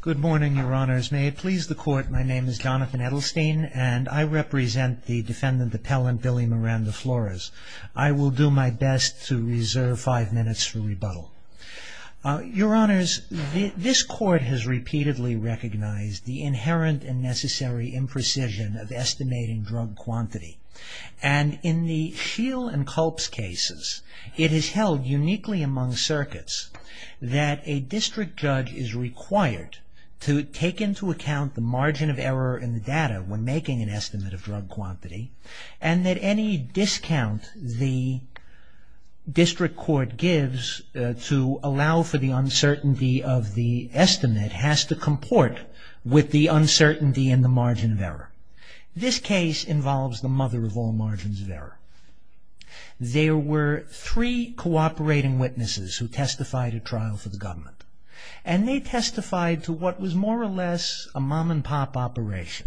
Good morning, your honors. May it please the court, my name is Jonathan Edelstein and I represent the defendant appellant Billy Miranda Flores. I will do my best to reserve five minutes for rebuttal. Your honors, this court has repeatedly recognized the inherent and necessary imprecision of estimating drug quantity. And in the Scheel and Culp's cases, it is held uniquely among circuits that a district judge is required to take into account the margin of error in the data when making an estimate of drug quantity. And that any discount the district court gives to allow for the uncertainty of the estimate has to comport with the uncertainty in the margin of error. This case involves the mother of all margins of error. There were three cooperating witnesses who testified at trial for the government. And they testified to what was more or less a mom and pop operation.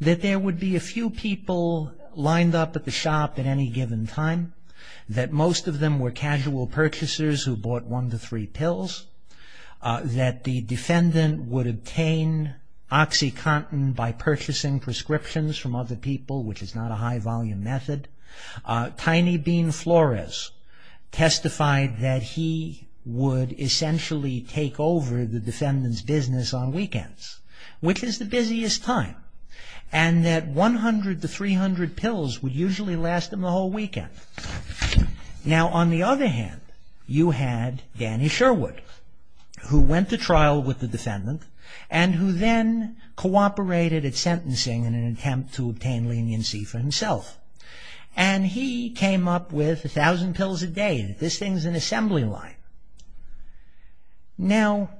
That there would be a few people lined up at the shop at any given time. That most of them were casual purchasers who bought one to three pills. That the defendant would obtain OxyContin by purchasing prescriptions from other people, which is not a high volume method. Tiny Bean Flores testified that he would essentially take over the defendant's business on weekends, which is the busiest time. And that 100 to 300 pills would usually last him the whole weekend. Now, on the other hand, you had Danny Sherwood, who went to trial with the defendant, and who then cooperated at sentencing in an attempt to obtain leniency for himself. And he came up with 1,000 pills a day. This thing's an assembly line. Now,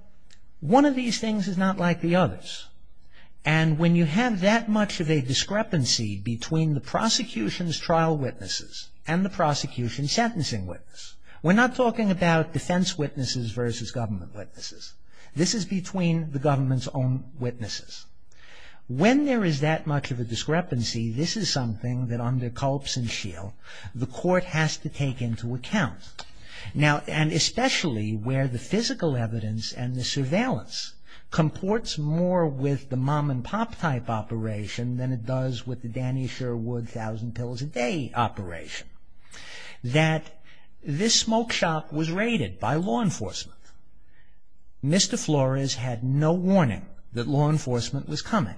one of these things is not like the others. And when you have that much of a discrepancy between the prosecution's trial witnesses and the prosecution's sentencing witness. We're not talking about defense witnesses versus government witnesses. This is between the government's own witnesses. When there is that much of a discrepancy, this is something that under Culp's and Scheel, the court has to take into account. Now, and especially where the physical evidence and the surveillance comports more with the mom-and-pop type operation than it does with the Danny Sherwood 1,000 pills a day operation. That this smoke shop was raided by law enforcement. Mr. Flores had no warning that law enforcement was coming.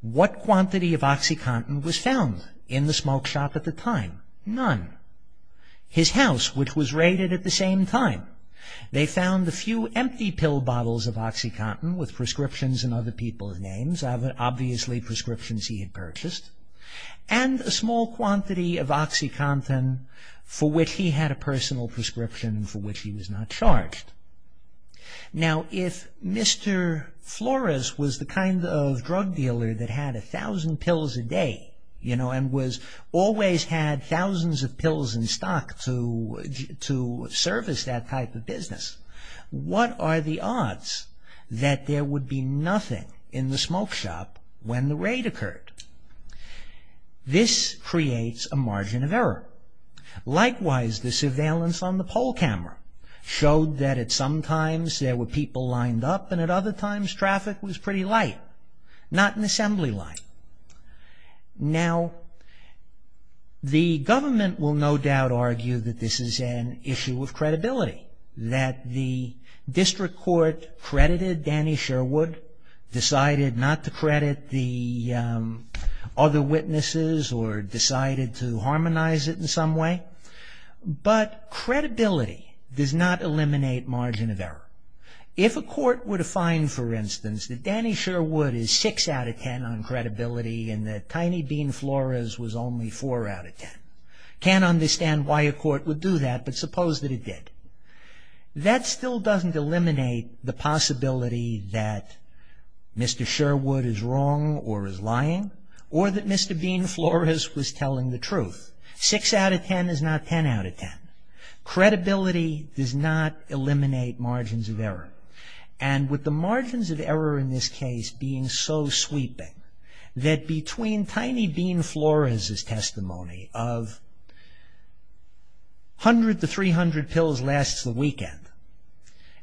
What quantity of OxyContin was found in the smoke shop at the time? None. His house, which was raided at the same time. They found a few empty pill bottles of OxyContin with prescriptions in other people's names, obviously prescriptions he had purchased. And a small quantity of OxyContin for which he had a personal prescription for which he was not charged. Now, if Mr. Flores was the kind of drug dealer that had 1,000 pills a day, you know, and always had thousands of pills in stock to service that type of business. What are the odds that there would be nothing in the smoke shop when the raid occurred? This creates a margin of error. Likewise, the surveillance on the poll camera showed that at some times there were people lined up and at other times traffic was pretty light. Not an assembly line. Now, the government will no doubt argue that this is an issue of credibility. That the district court credited Danny Sherwood, decided not to credit the other witnesses or decided to harmonize it in some way. But credibility does not eliminate margin of error. If a court were to find, for instance, that Danny Sherwood is 6 out of 10 on credibility and that Tiny Bean Flores was only 4 out of 10. Can't understand why a court would do that, but suppose that it did. That still doesn't eliminate the possibility that Mr. Sherwood is wrong or is lying or that Mr. Bean Flores was telling the truth. 6 out of 10 is not 10 out of 10. Credibility does not eliminate margins of error. And with the margins of error in this case being so sweeping that between Tiny Bean Flores' testimony of 100 to 300 pills lasts the weekend.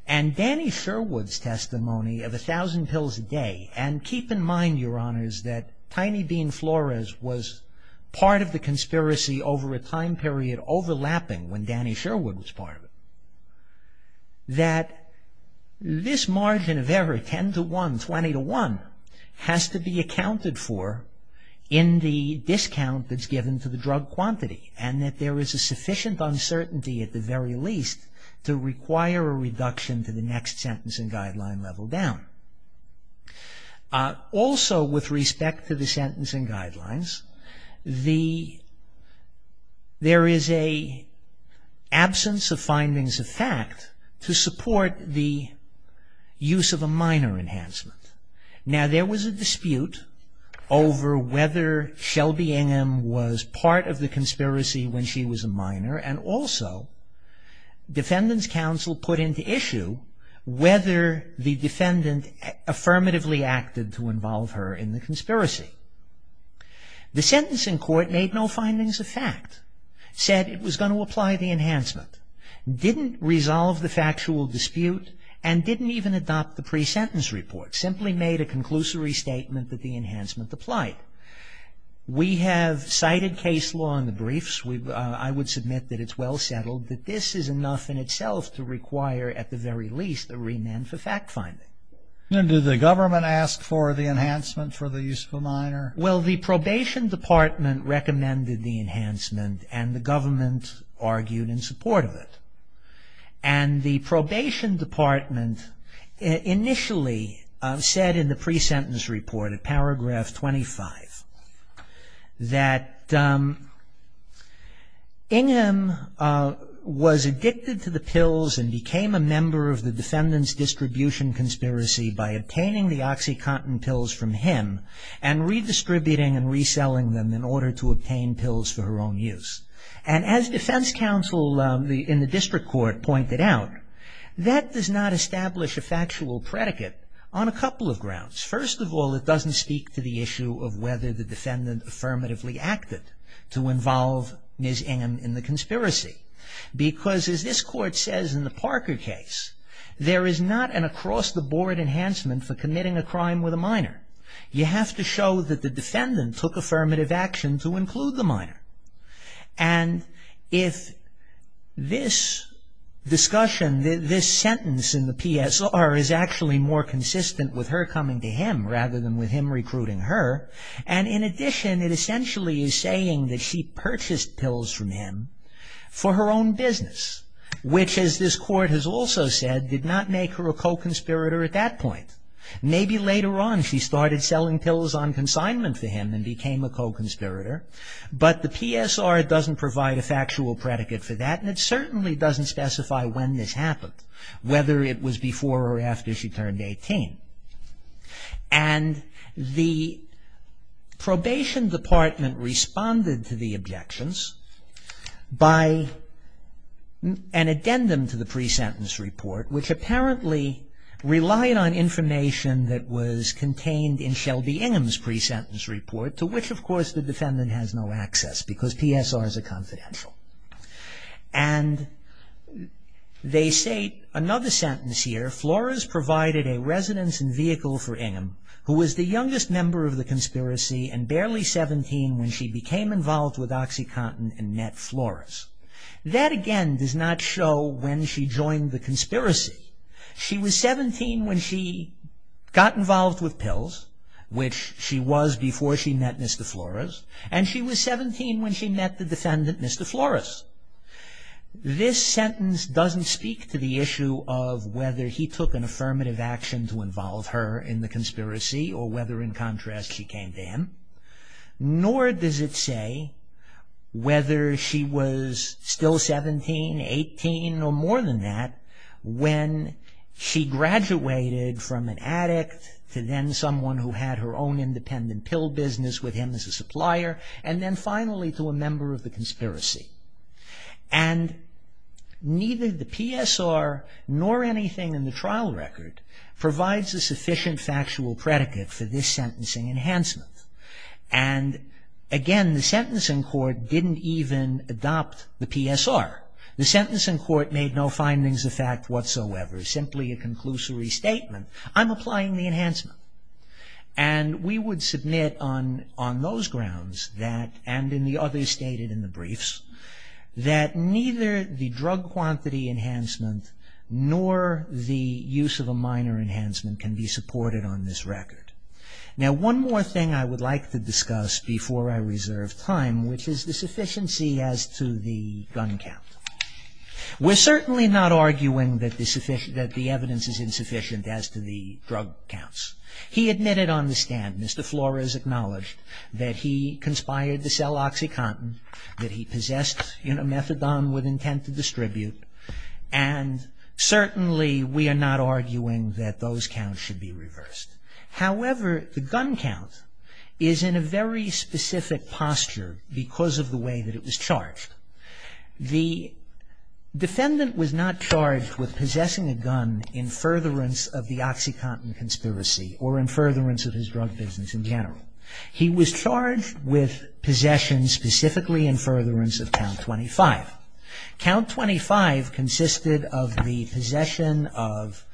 And Danny Sherwood's testimony of 1,000 pills a day. And keep in mind, your honors, that Tiny Bean Flores was part of the conspiracy over a time period overlapping when Danny Sherwood was part of it. That this margin of error, 10 to 1, 20 to 1, has to be accounted for in the discount that's given to the drug quantity. And that there is a sufficient uncertainty at the very least to require a reduction to the next sentence and guideline level down. Also, with respect to the sentence and guidelines, there is an absence of findings of fact to support the use of a minor enhancement. Now, there was a dispute over whether Shelby Ingham was part of the conspiracy when she was a minor. And also, defendant's counsel put into issue whether the defendant affirmatively acted to involve her in the conspiracy. The sentencing court made no findings of fact. Said it was going to apply the enhancement. Didn't resolve the factual dispute and didn't even adopt the pre-sentence report. Simply made a conclusory statement that the enhancement applied. We have cited case law in the briefs. I would submit that it's well settled that this is enough in itself to require, at the very least, a remand for fact finding. And did the government ask for the enhancement for the use of a minor? Well, the probation department recommended the enhancement and the government argued in support of it. And the probation department initially said in the pre-sentence report, in paragraph 25, that Ingham was addicted to the pills and became a member of the defendant's distribution conspiracy by obtaining the OxyContin pills from him and redistributing and reselling them in order to obtain pills for her own use. And as defense counsel in the district court pointed out, that does not establish a factual predicate on a couple of grounds. First of all, it doesn't speak to the issue of whether the defendant affirmatively acted to involve Ms. Ingham in the conspiracy. Because, as this court says in the Parker case, there is not an across-the-board enhancement for committing a crime with a minor. You have to show that the defendant took affirmative action to include the minor. And if this discussion, this sentence in the PSR is actually more consistent with her coming to him rather than with him recruiting her, and in addition, it essentially is saying that she purchased pills from him for her own business. Which, as this court has also said, did not make her a co-conspirator at that point. Maybe later on she started selling pills on consignment for him and became a co-conspirator. But the PSR doesn't provide a factual predicate for that and it certainly doesn't specify when this happened. Whether it was before or after she turned 18. And the probation department responded to the objections by an addendum to the pre-sentence report, which apparently relied on information that was contained in Shelby Ingham's pre-sentence report, to which, of course, the defendant has no access because PSRs are confidential. And they say, another sentence here, Flores provided a residence and vehicle for Ingham, who was the youngest member of the conspiracy and barely 17 when she became involved with OxyContin and met Flores. That, again, does not show when she joined the conspiracy. She was 17 when she got involved with pills, which she was before she met Mr. Flores, and she was 17 when she met the defendant, Mr. Flores. This sentence doesn't speak to the issue of whether he took an affirmative action to involve her in the conspiracy or whether, in contrast, she came to him. Nor does it say whether she was still 17, 18, or more than that, when she graduated from an addict to then someone who had her own independent pill business with him as a supplier, and then finally to a member of the conspiracy. And neither the PSR nor anything in the trial record provides a sufficient factual predicate for this sentencing enhancement. And, again, the sentencing court didn't even adopt the PSR. The sentencing court made no findings of fact whatsoever, simply a conclusory statement, I'm applying the enhancement. And we would submit on those grounds that, and in the others stated in the briefs, that neither the drug quantity enhancement nor the use of a minor enhancement can be supported on this record. Now, one more thing I would like to discuss before I reserve time, which is the sufficiency as to the gun count. We're certainly not arguing that the evidence is insufficient as to the drug counts. He admitted on the stand, Mr. Flores acknowledged, that he conspired to sell OxyContin, that he possessed methadone with intent to distribute, and certainly we are not arguing that those counts should be reversed. However, the gun count is in a very specific posture because of the way that it was charged. The defendant was not charged with possessing a gun in furtherance of the OxyContin conspiracy or in furtherance of his drug business in general. He was charged with possession specifically in furtherance of Count 25. Count 25 consisted of the possession of,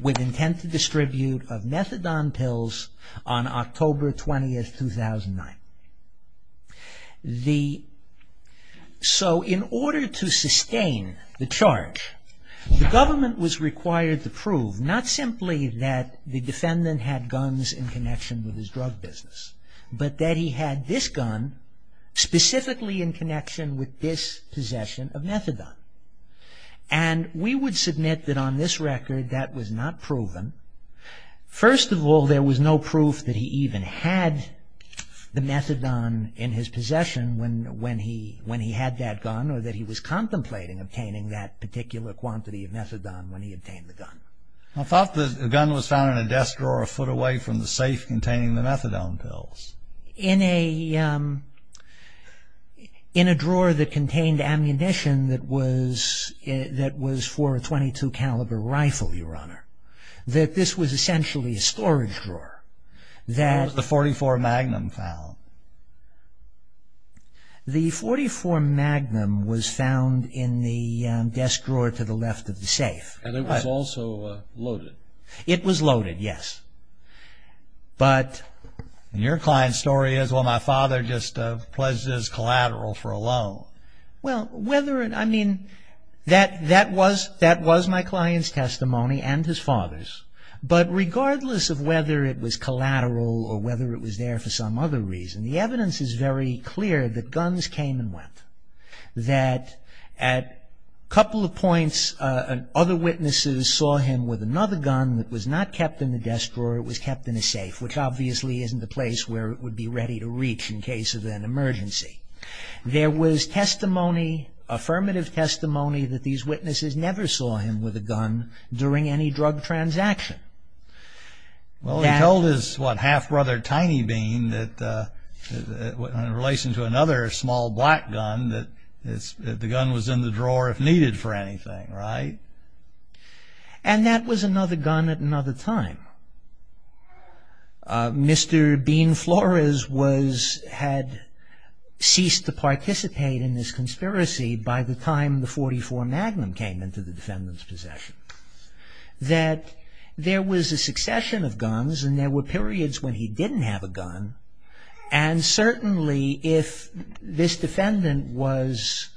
with intent to distribute, of methadone pills on October 20, 2009. So, in order to sustain the charge, the government was required to prove, not simply that the defendant had guns in connection with his drug business, but that he had this gun specifically in connection with this possession of methadone. And we would submit that on this record that was not proven. First of all, there was no proof that he even had the methadone in his possession when he had that gun or that he was contemplating obtaining that particular quantity of methadone when he obtained the gun. I thought the gun was found in a desk drawer a foot away from the safe containing the methadone pills. In a drawer that contained ammunition that was for a .22 caliber rifle, Your Honor. That this was essentially a storage drawer. Where was the .44 Magnum found? The .44 Magnum was found in the desk drawer to the left of the safe. And it was also loaded? It was loaded, yes. But, and your client's story is, well, my father just pledged his collateral for a loan. Well, whether, I mean, that was my client's testimony and his father's. But regardless of whether it was collateral or whether it was there for some other reason, the evidence is very clear that guns came and went. That at a couple of points other witnesses saw him with another gun that was not kept in the desk drawer, it was kept in a safe, which obviously isn't a place where it would be ready to reach in case of an emergency. There was testimony, affirmative testimony, that these witnesses never saw him with a gun during any drug transaction. Well, he told his, what, half-brother Tiny Bean that, in relation to another small black gun, that the gun was in the drawer if needed for anything, right? And that was another gun at another time. Mr. Bean Flores was, had ceased to participate in this conspiracy by the time the .44 Magnum came into the defendant's possession. That there was a succession of guns and there were periods when he didn't have a gun. And certainly if this defendant was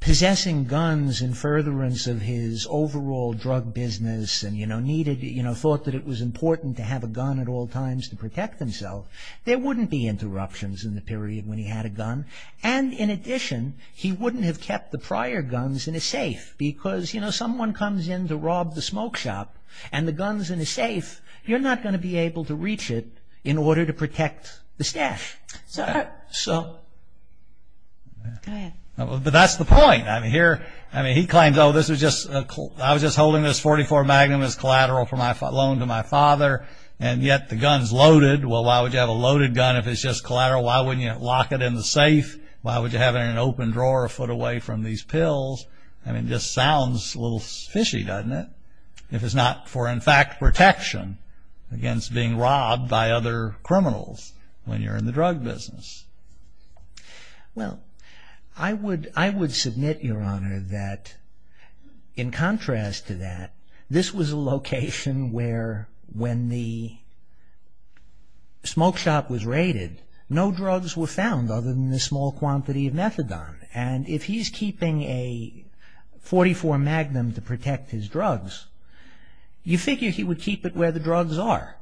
possessing guns in furtherance of his overall drug business and, you know, needed, you know, thought that it was important to have a gun at all times to protect himself, there wouldn't be interruptions in the period when he had a gun. And in addition, he wouldn't have kept the prior guns in a safe because, you know, someone comes in to rob the smoke shop and the gun's in a safe, you're not going to be able to reach it in order to protect the staff. So... Go ahead. But that's the point. I mean, here, I mean, he claims, oh, this was just, I was just holding this .44 Magnum, it was collateral from my, loaned to my father, and yet the gun's loaded. Well, why would you have a loaded gun if it's just collateral? Why wouldn't you lock it in the safe? Why would you have it in an open drawer a foot away from these pills? I mean, it just sounds a little fishy, doesn't it? If it's not for, in fact, protection against being robbed by other criminals when you're in the drug business. Well, I would submit, Your Honor, that in contrast to that, this was a location where when the smoke shop was raided, no drugs were found other than the small quantity of methadone. And if he's keeping a .44 Magnum to protect his drugs, you figure he would keep it where the drugs are.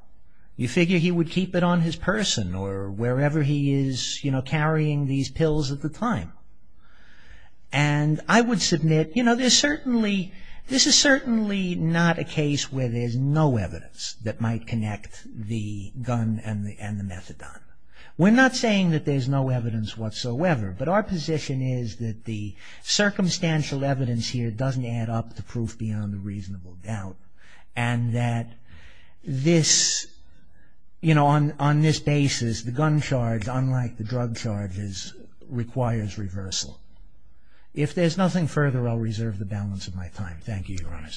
You figure he would keep it on his person or wherever he is, you know, carrying these pills at the time. And I would submit, you know, there's certainly, this is certainly not a case where there's no evidence that might connect the gun and the methadone. We're not saying that there's no evidence whatsoever, but our position is that the circumstantial evidence here doesn't add up to proof beyond a reasonable doubt, and that this, you know, on this basis, the gun charge, unlike the drug charges, requires reversal. If there's nothing further, I'll reserve the balance of my time. Thank you, Your Honor.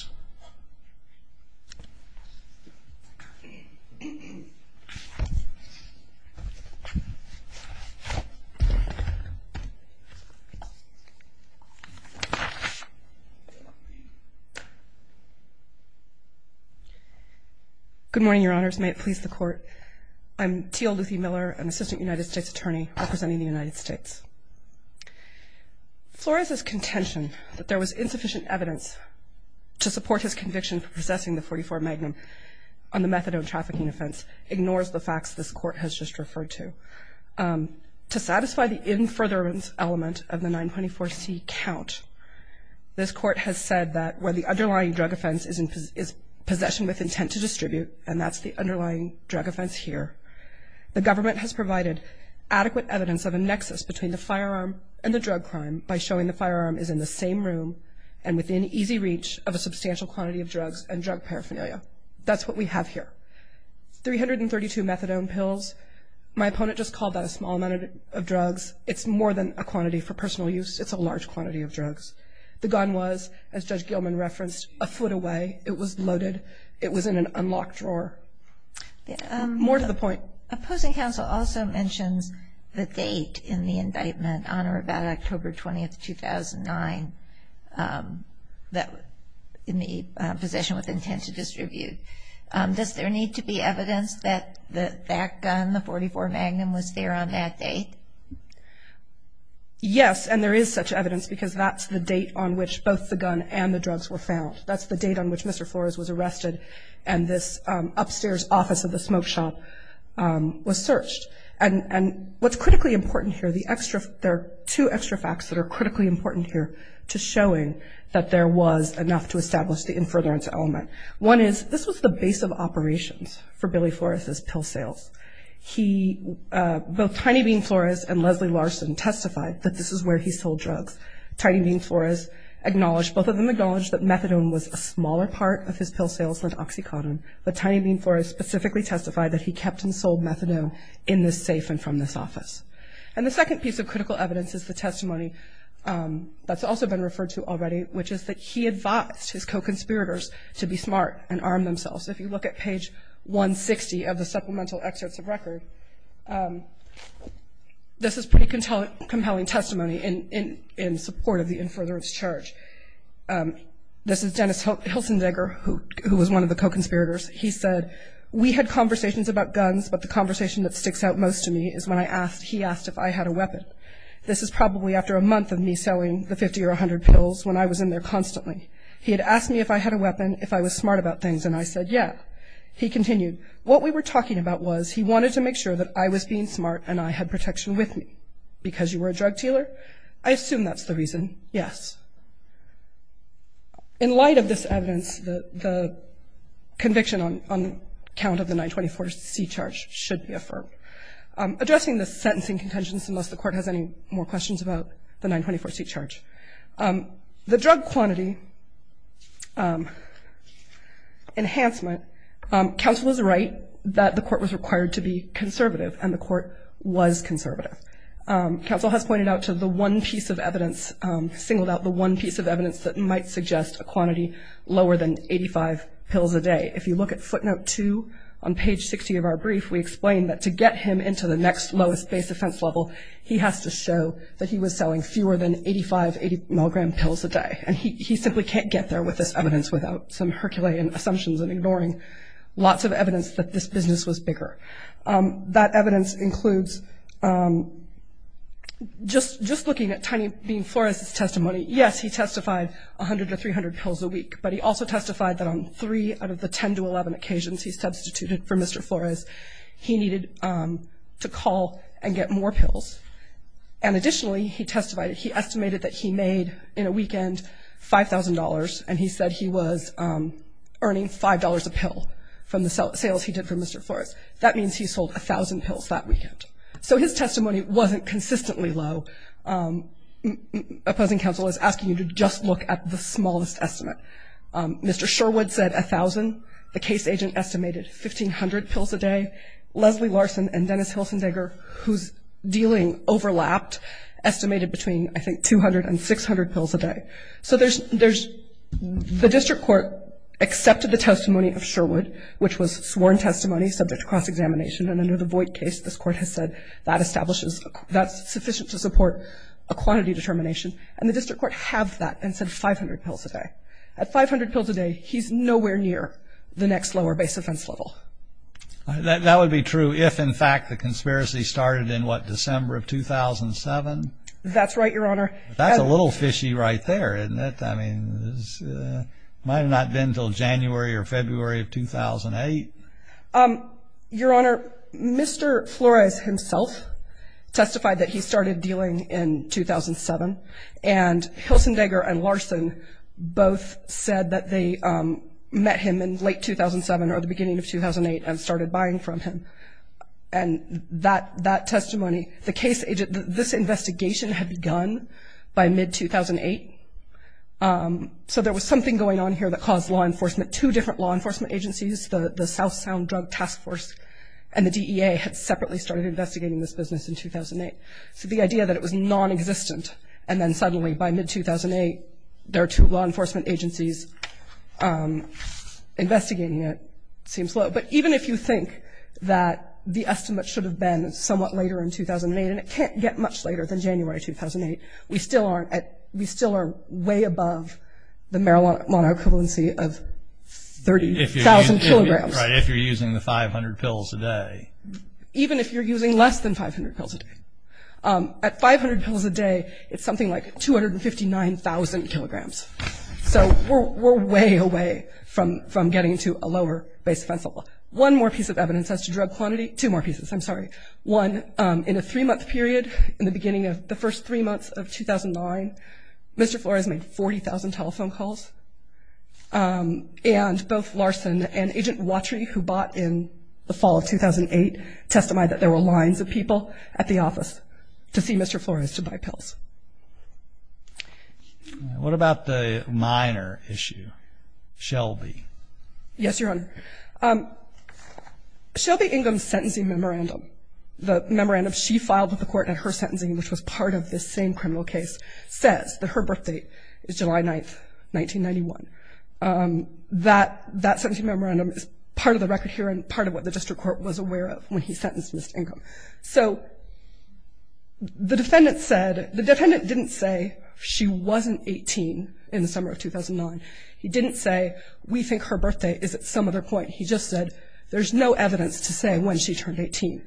Good morning, Your Honors. May it please the Court. I'm T.L. Luthie Miller, an Assistant United States Attorney representing the United States. Flores's contention that there was insufficient evidence to support his conviction for possessing the .44 Magnum on the methadone trafficking offense ignores the facts this Court has just referred to. To satisfy the in-further request, of the 924C count, this Court has said that where the underlying drug offense is possession with intent to distribute, and that's the underlying drug offense here, the government has provided adequate evidence of a nexus between the firearm and the drug crime by showing the firearm is in the same room and within easy reach of a substantial quantity of drugs and drug paraphernalia. That's what we have here. Three hundred and thirty-two methadone pills, my opponent just called that a small amount of drugs. It's more than a quantity for personal use. It's a large quantity of drugs. The gun was, as Judge Gilman referenced, a foot away. It was loaded. It was in an unlocked drawer. More to the point. Opposing counsel also mentions the date in the indictment, on or about October 20, 2009, in the possession with intent to distribute. Does there need to be evidence that that gun, the .44 Magnum, was there on that date? Yes, and there is such evidence because that's the date on which both the gun and the drugs were found. That's the date on which Mr. Flores was arrested and this upstairs office of the smoke shop was searched. And what's critically important here, there are two extra facts that are critically important here to showing that there was enough to establish the infertile element. One is this was the base of operations for Billy Flores' pill sales. Both Tiny Bean Flores and Leslie Larson testified that this is where he sold drugs. Tiny Bean Flores acknowledged, both of them acknowledged, that methadone was a smaller part of his pill sales than OxyContin, but Tiny Bean Flores specifically testified that he kept and sold methadone in this safe and from this office. And the second piece of critical evidence is the testimony that's also been referred to already, which is that he advised his co-conspirators to be smart and arm themselves. If you look at page 160 of the supplemental excerpts of record, this is pretty compelling testimony in support of the Inferno's charge. This is Dennis Hilsendegger, who was one of the co-conspirators. He said, we had conversations about guns, but the conversation that sticks out most to me is when he asked if I had a weapon. This is probably after a month of me selling the 50 or 100 pills when I was in there constantly. He had asked me if I had a weapon, if I was smart about things, and I said, yeah. He continued, what we were talking about was he wanted to make sure that I was being smart and I had protection with me. Because you were a drug dealer? I assume that's the reason, yes. In light of this evidence, the conviction on account of the 924C charge should be affirmed. Addressing the sentencing contentions, unless the court has any more questions about the 924C charge, the drug quantity enhancement, counsel is right that the court was required to be conservative, and the court was conservative. Counsel has pointed out to the one piece of evidence, singled out the one piece of evidence that might suggest a quantity lower than 85 pills a day. If you look at footnote 2 on page 60 of our brief, we explain that to get him into the next lowest base offense level, he has to show that he was selling fewer than 85 milligram pills a day. And he simply can't get there with this evidence without some Herculean assumptions and ignoring lots of evidence that this business was bigger. That evidence includes just looking at Tiny Bean Flores' testimony, yes, he testified 100 or 300 pills a week, but he also testified that on three out of the 10 to 11 occasions he substituted for Mr. Flores, he needed to call and get more pills. And additionally, he testified, he estimated that he made in a weekend $5,000, and he said he was earning $5 a pill from the sales he did for Mr. Flores. That means he sold 1,000 pills that weekend. So his testimony wasn't consistently low. Opposing counsel is asking you to just look at the smallest estimate. Mr. Sherwood said 1,000. The case agent estimated 1,500 pills a day. Leslie Larson and Dennis Hilsendegger, who's dealing overlapped, estimated between, I think, 200 and 600 pills a day. So there's the district court accepted the testimony of Sherwood, which was sworn testimony subject to cross-examination, and under the Voight case, this court has said that establishes, that's sufficient to support a quantity determination. And the district court halved that and said 500 pills a day. At 500 pills a day, he's nowhere near the next lower base offense level. That would be true if, in fact, the conspiracy started in, what, December of 2007? That's right, Your Honor. That's a little fishy right there, isn't it? I mean, it might have not been until January or February of 2008. Your Honor, Mr. Flores himself testified that he started dealing in 2007, and Hilsendegger and Larson both said that they met him in late 2007 or the beginning of 2008 and started buying from him. And that testimony, the case agent, this investigation had begun by mid-2008. So there was something going on here that caused law enforcement, two different law enforcement agencies, the South Sound Drug Task Force and the DEA had separately started investigating this business in 2008. So the idea that it was nonexistent and then suddenly by mid-2008, there are two law enforcement agencies investigating it seems low. But even if you think that the estimate should have been somewhat later in 2008, and it can't get much later than January 2008, we still are way above the marijuana equivalency of 30,000 kilograms. Right, if you're using the 500 pills a day. Even if you're using less than 500 pills a day. At 500 pills a day, it's something like 259,000 kilograms. So we're way away from getting to a lower base offense level. One more piece of evidence as to drug quantity, two more pieces, I'm sorry. One, in a three-month period, in the beginning of the first three months of 2009, Mr. Flores made 40,000 telephone calls. And both Larson and Agent Watry, who bought in the fall of 2008, testified that there were lines of people at the office to see Mr. Flores to buy pills. What about the minor issue, Shelby? Yes, Your Honor. Shelby Ingham's sentencing memorandum, the memorandum she filed with the court at her sentencing, which was part of this same criminal case, says that her birth date is July 9th, 1991. That sentencing memorandum is part of the record here and part of what the district court was aware of when he sentenced Ms. Ingham. So the defendant didn't say she wasn't 18 in the summer of 2009. He didn't say we think her birth date is at some other point. He just said there's no evidence to say when she turned 18.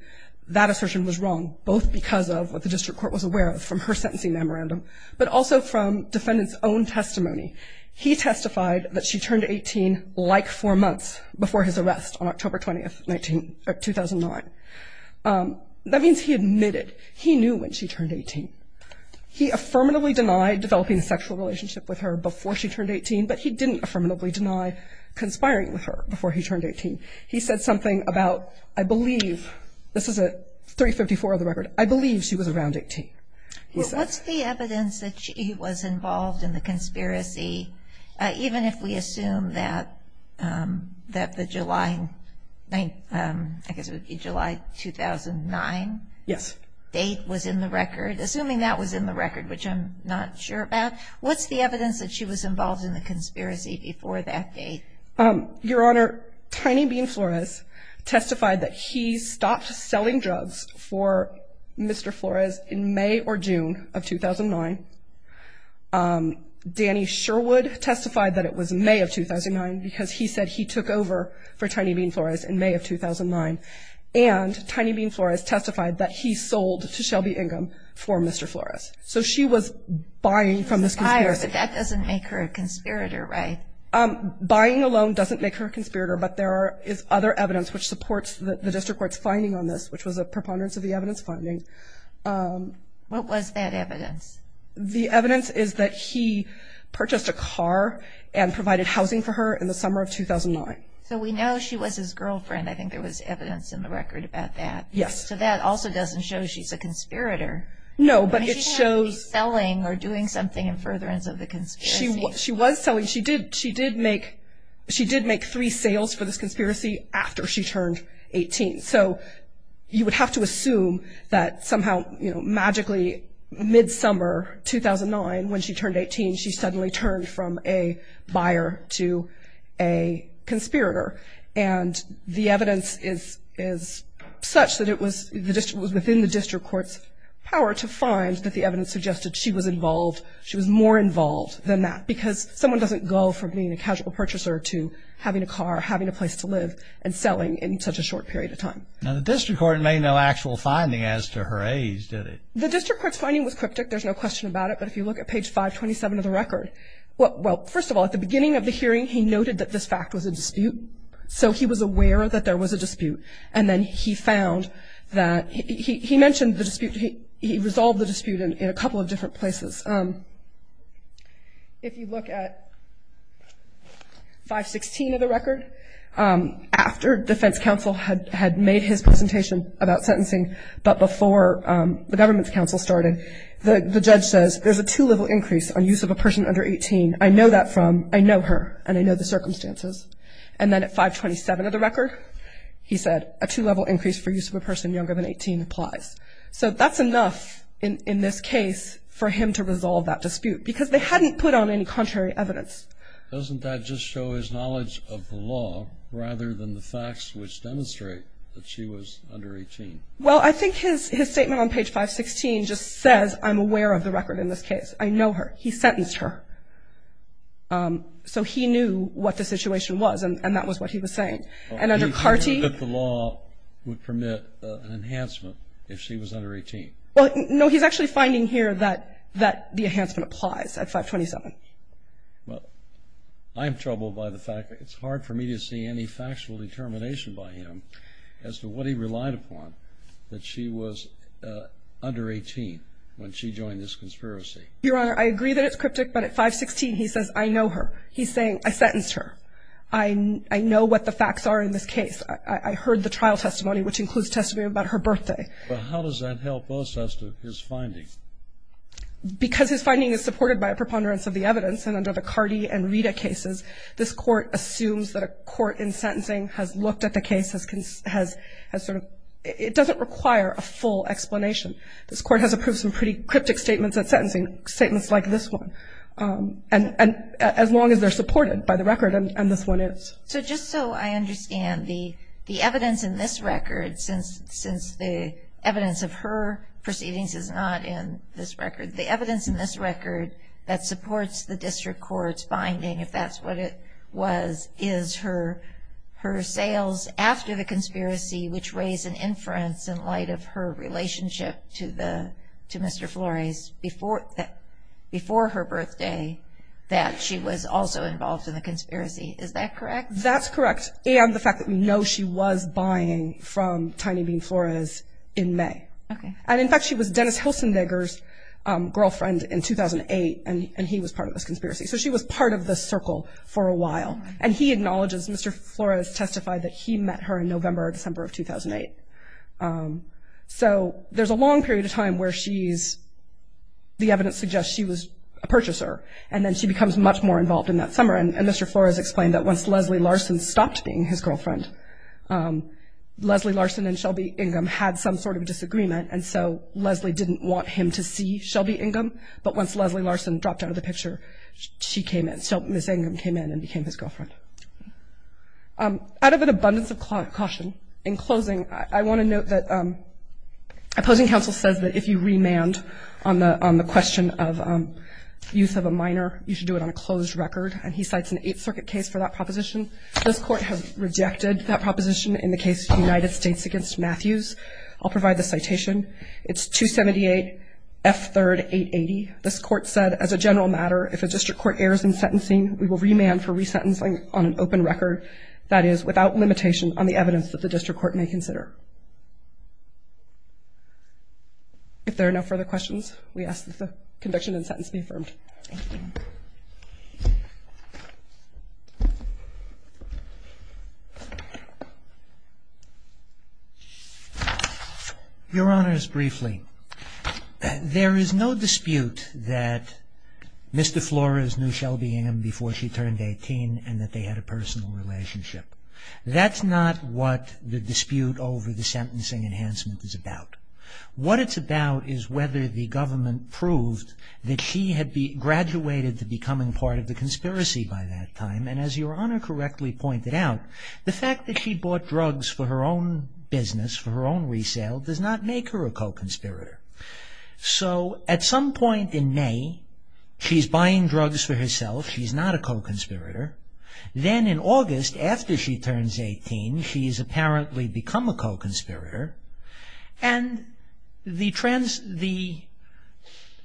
That assertion was wrong, both because of what the district court was aware of from her sentencing memorandum, but also from defendant's own testimony. He testified that she turned 18 like four months before his arrest on October 20th, 2009. That means he admitted he knew when she turned 18. He affirmatively denied developing a sexual relationship with her before she turned 18, but he didn't affirmatively deny conspiring with her before he turned 18. He said something about, I believe, this is at 354 of the record, I believe she was around 18. What's the evidence that she was involved in the conspiracy, even if we assume that the July, I guess it would be July 2009? Yes. Date was in the record, assuming that was in the record, which I'm not sure about. What's the evidence that she was involved in the conspiracy before that date? Your Honor, Tiny Bean Flores testified that he stopped selling drugs for Mr. Flores in May or June of 2009. Danny Sherwood testified that it was May of 2009 because he said he took over for Tiny Bean Flores in May of 2009. And Tiny Bean Flores testified that he sold to Shelby Ingham for Mr. Flores. So she was buying from this conspiracy. But that doesn't make her a conspirator, right? Buying alone doesn't make her a conspirator, but there is other evidence which supports the district court's finding on this, which was a preponderance of the evidence finding. What was that evidence? The evidence is that he purchased a car and provided housing for her in the summer of 2009. So we know she was his girlfriend. I think there was evidence in the record about that. Yes. So that also doesn't show she's a conspirator. No, but it shows – She can't be selling or doing something in furtherance of the conspiracy. She was selling. She did make three sales for this conspiracy after she turned 18. So you would have to assume that somehow magically mid-summer 2009, when she turned 18, she suddenly turned from a buyer to a conspirator. And the evidence is such that it was within the district court's power to find that the evidence suggested she was involved, she was more involved than that, because someone doesn't go from being a casual purchaser to having a car, having a place to live, and selling in such a short period of time. Now, the district court made no actual finding as to her age, did it? The district court's finding was cryptic. There's no question about it. But if you look at page 527 of the record, well, first of all, at the beginning of the hearing, he noted that this fact was a dispute. So he was aware that there was a dispute. And then he found that he mentioned the dispute. He resolved the dispute in a couple of different places. If you look at 516 of the record, after defense counsel had made his presentation about sentencing, but before the government's counsel started, the judge says, there's a two-level increase on use of a person under 18. I know that from, I know her, and I know the circumstances. And then at 527 of the record, he said, a two-level increase for use of a person younger than 18 applies. So that's enough in this case for him to resolve that dispute, because they hadn't put on any contrary evidence. Doesn't that just show his knowledge of the law, rather than the facts which demonstrate that she was under 18? Well, I think his statement on page 516 just says, I'm aware of the record in this case. I know her. He sentenced her. So he knew what the situation was, and that was what he was saying. And under CARTI. He said that the law would permit an enhancement if she was under 18. Well, no, he's actually finding here that the enhancement applies at 527. Well, I'm troubled by the fact that it's hard for me to see any factual determination by him as to what he relied upon, that she was under 18 when she joined this conspiracy. Your Honor, I agree that it's cryptic, but at 516, he says, I know her. He's saying, I sentenced her. I know what the facts are in this case. I heard the trial testimony, which includes testimony about her birthday. Well, how does that help us as to his findings? Because his finding is supported by a preponderance of the evidence, and under the CARTI and RITA cases, this Court assumes that a court in sentencing has looked at the case as sort of ‑‑ it doesn't require a full explanation. This Court has approved some pretty cryptic statements at sentencing, statements like this one. And as long as they're supported by the record, and this one is. So just so I understand, the evidence in this record, since the evidence of her proceedings is not in this record, the evidence in this record that supports the district court's finding, if that's what it was, is her sales after the conspiracy, which raised an inference in light of her relationship to Mr. Flores before her birthday, that she was also involved in the conspiracy. Is that correct? That's correct. And the fact that we know she was buying from Tiny Bean Flores in May. Okay. And, in fact, she was Dennis Hilsendegger's girlfriend in 2008, and he was part of this conspiracy. So she was part of this circle for a while. And he acknowledges, Mr. Flores testified that he met her in November or December of 2008. So there's a long period of time where she's ‑‑ the evidence suggests she was a purchaser, and then she becomes much more involved in that summer. And Mr. Flores explained that once Leslie Larson stopped being his girlfriend, Leslie Larson and Shelby Ingham had some sort of disagreement, and so Leslie didn't want him to see Shelby Ingham. But once Leslie Larson dropped out of the picture, she came in. So Ms. Ingham came in and became his girlfriend. Out of an abundance of caution, in closing, I want to note that opposing counsel says that if you remand on the question of youth of a minor, you should do it on a closed record, and he cites an Eighth Circuit case for that proposition. This Court has rejected that proposition in the case of the United States against Matthews. I'll provide the citation. It's 278 F. 3rd. 880. This Court said, as a general matter, if a district court errs in sentencing, we will remand for resentencing on an open record, that is, without limitation on the evidence that the district court may consider. If there are no further questions, we ask that the conviction and sentence be affirmed. Thank you. Your Honors, briefly, there is no dispute that Mr. Flores knew Shelby Ingham before she turned 18 and that they had a personal relationship. That's not what the dispute over the sentencing enhancement is about. What it's about is whether the government proved that she had graduated to becoming part of the conspiracy by that time, and as Your Honor correctly pointed out, the fact that she bought drugs for her own business, for her own resale, does not make her a co-conspirator. So, at some point in May, she's buying drugs for herself. She's not a co-conspirator. Then, in August, after she turns 18, she's apparently become a co-conspirator, and the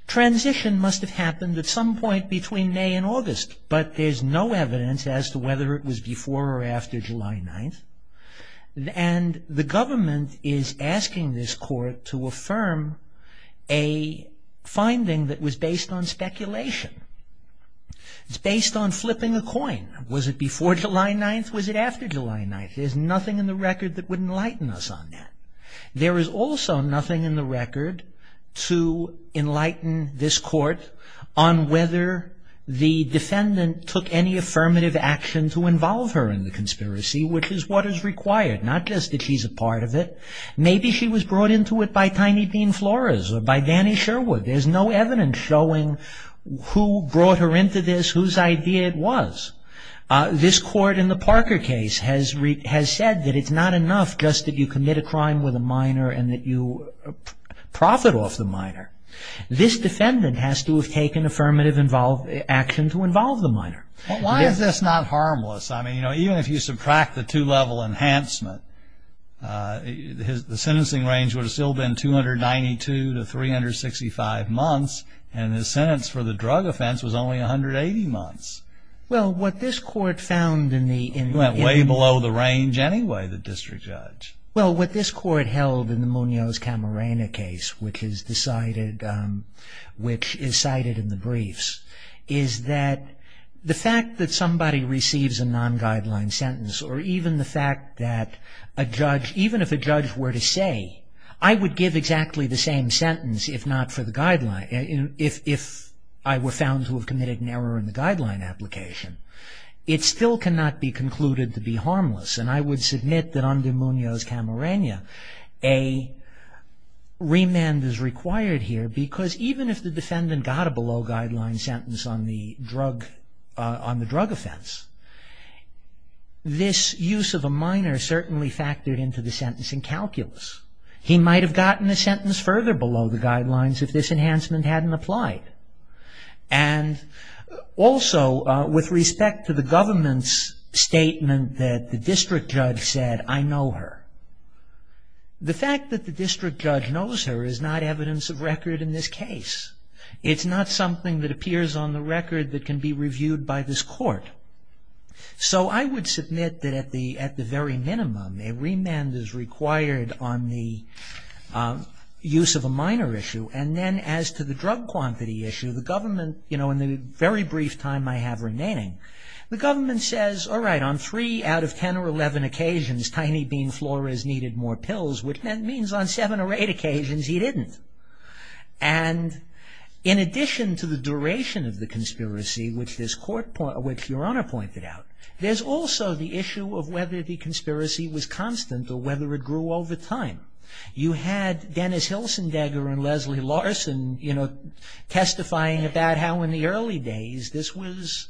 transition must have happened at some point between May and August, but there's no evidence as to whether it was before or after July 9th, and the government is asking this court to affirm a finding that was based on speculation. It's based on flipping a coin. Was it before July 9th? Was it after July 9th? There's nothing in the record that would enlighten us on that. There is also nothing in the record to enlighten this court on whether the defendant took any affirmative action to involve her in the conspiracy, which is what is required, not just that she's a part of it. Maybe she was brought into it by Tiny Bean Flores or by Danny Sherwood. There's no evidence showing who brought her into this, whose idea it was. This court in the Parker case has said that it's not enough just that you commit a crime with a minor and that you profit off the minor. This defendant has to have taken affirmative action to involve the minor. Why is this not harmless? Even if you subtract the two-level enhancement, the sentencing range would have still been 292 to 365 months, and the sentence for the drug offense was only 180 months. Well, what this court found in the... It went way below the range anyway, the district judge. Well, what this court held in the Munoz-Camarena case, which is cited in the briefs, is that the fact that somebody receives a non-guideline sentence or even the fact that a judge, even if a judge were to say, I would give exactly the same sentence if not for the guideline, if I were found to have committed an error in the guideline application, it still cannot be concluded to be harmless. And I would submit that under Munoz-Camarena, a remand is required here because even if the defendant got a below-guideline sentence on the drug offense, this use of a minor certainly factored into the sentencing calculus. He might have gotten a sentence further below the guidelines if this enhancement hadn't applied. And also, with respect to the government's statement that the district judge said, I know her, the fact that the district judge knows her is not evidence of record in this case. It's not something that appears on the record that can be reviewed by this court. So I would submit that at the very minimum, a remand is required on the use of a minor issue. And then as to the drug quantity issue, the government, you know, in the very brief time I have remaining, the government says, all right, on three out of ten or eleven occasions, Tiny Bean Flores needed more pills, which means on seven or eight occasions he didn't. And in addition to the duration of the conspiracy, which this court, which Your Honor pointed out, there's also the issue of whether the conspiracy was constant or whether it grew over time. You had Dennis Hilsendegger and Leslie Larson, you know, testifying about how in the early days this was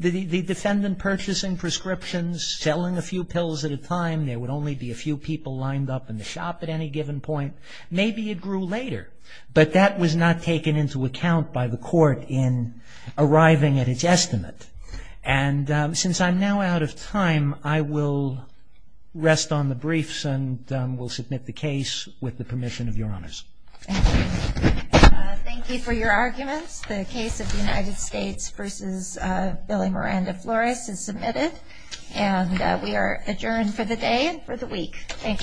the defendant purchasing prescriptions, selling a few pills at a time. There would only be a few people lined up in the shop at any given point. Maybe it grew later. But that was not taken into account by the court in arriving at its estimate. And since I'm now out of time, I will rest on the briefs and will submit the case with the permission of Your Honors. Thank you. Thank you for your arguments. The case of the United States v. Billy Miranda Flores is submitted. And we are adjourned for the day and for the week. Thank you. Thank you.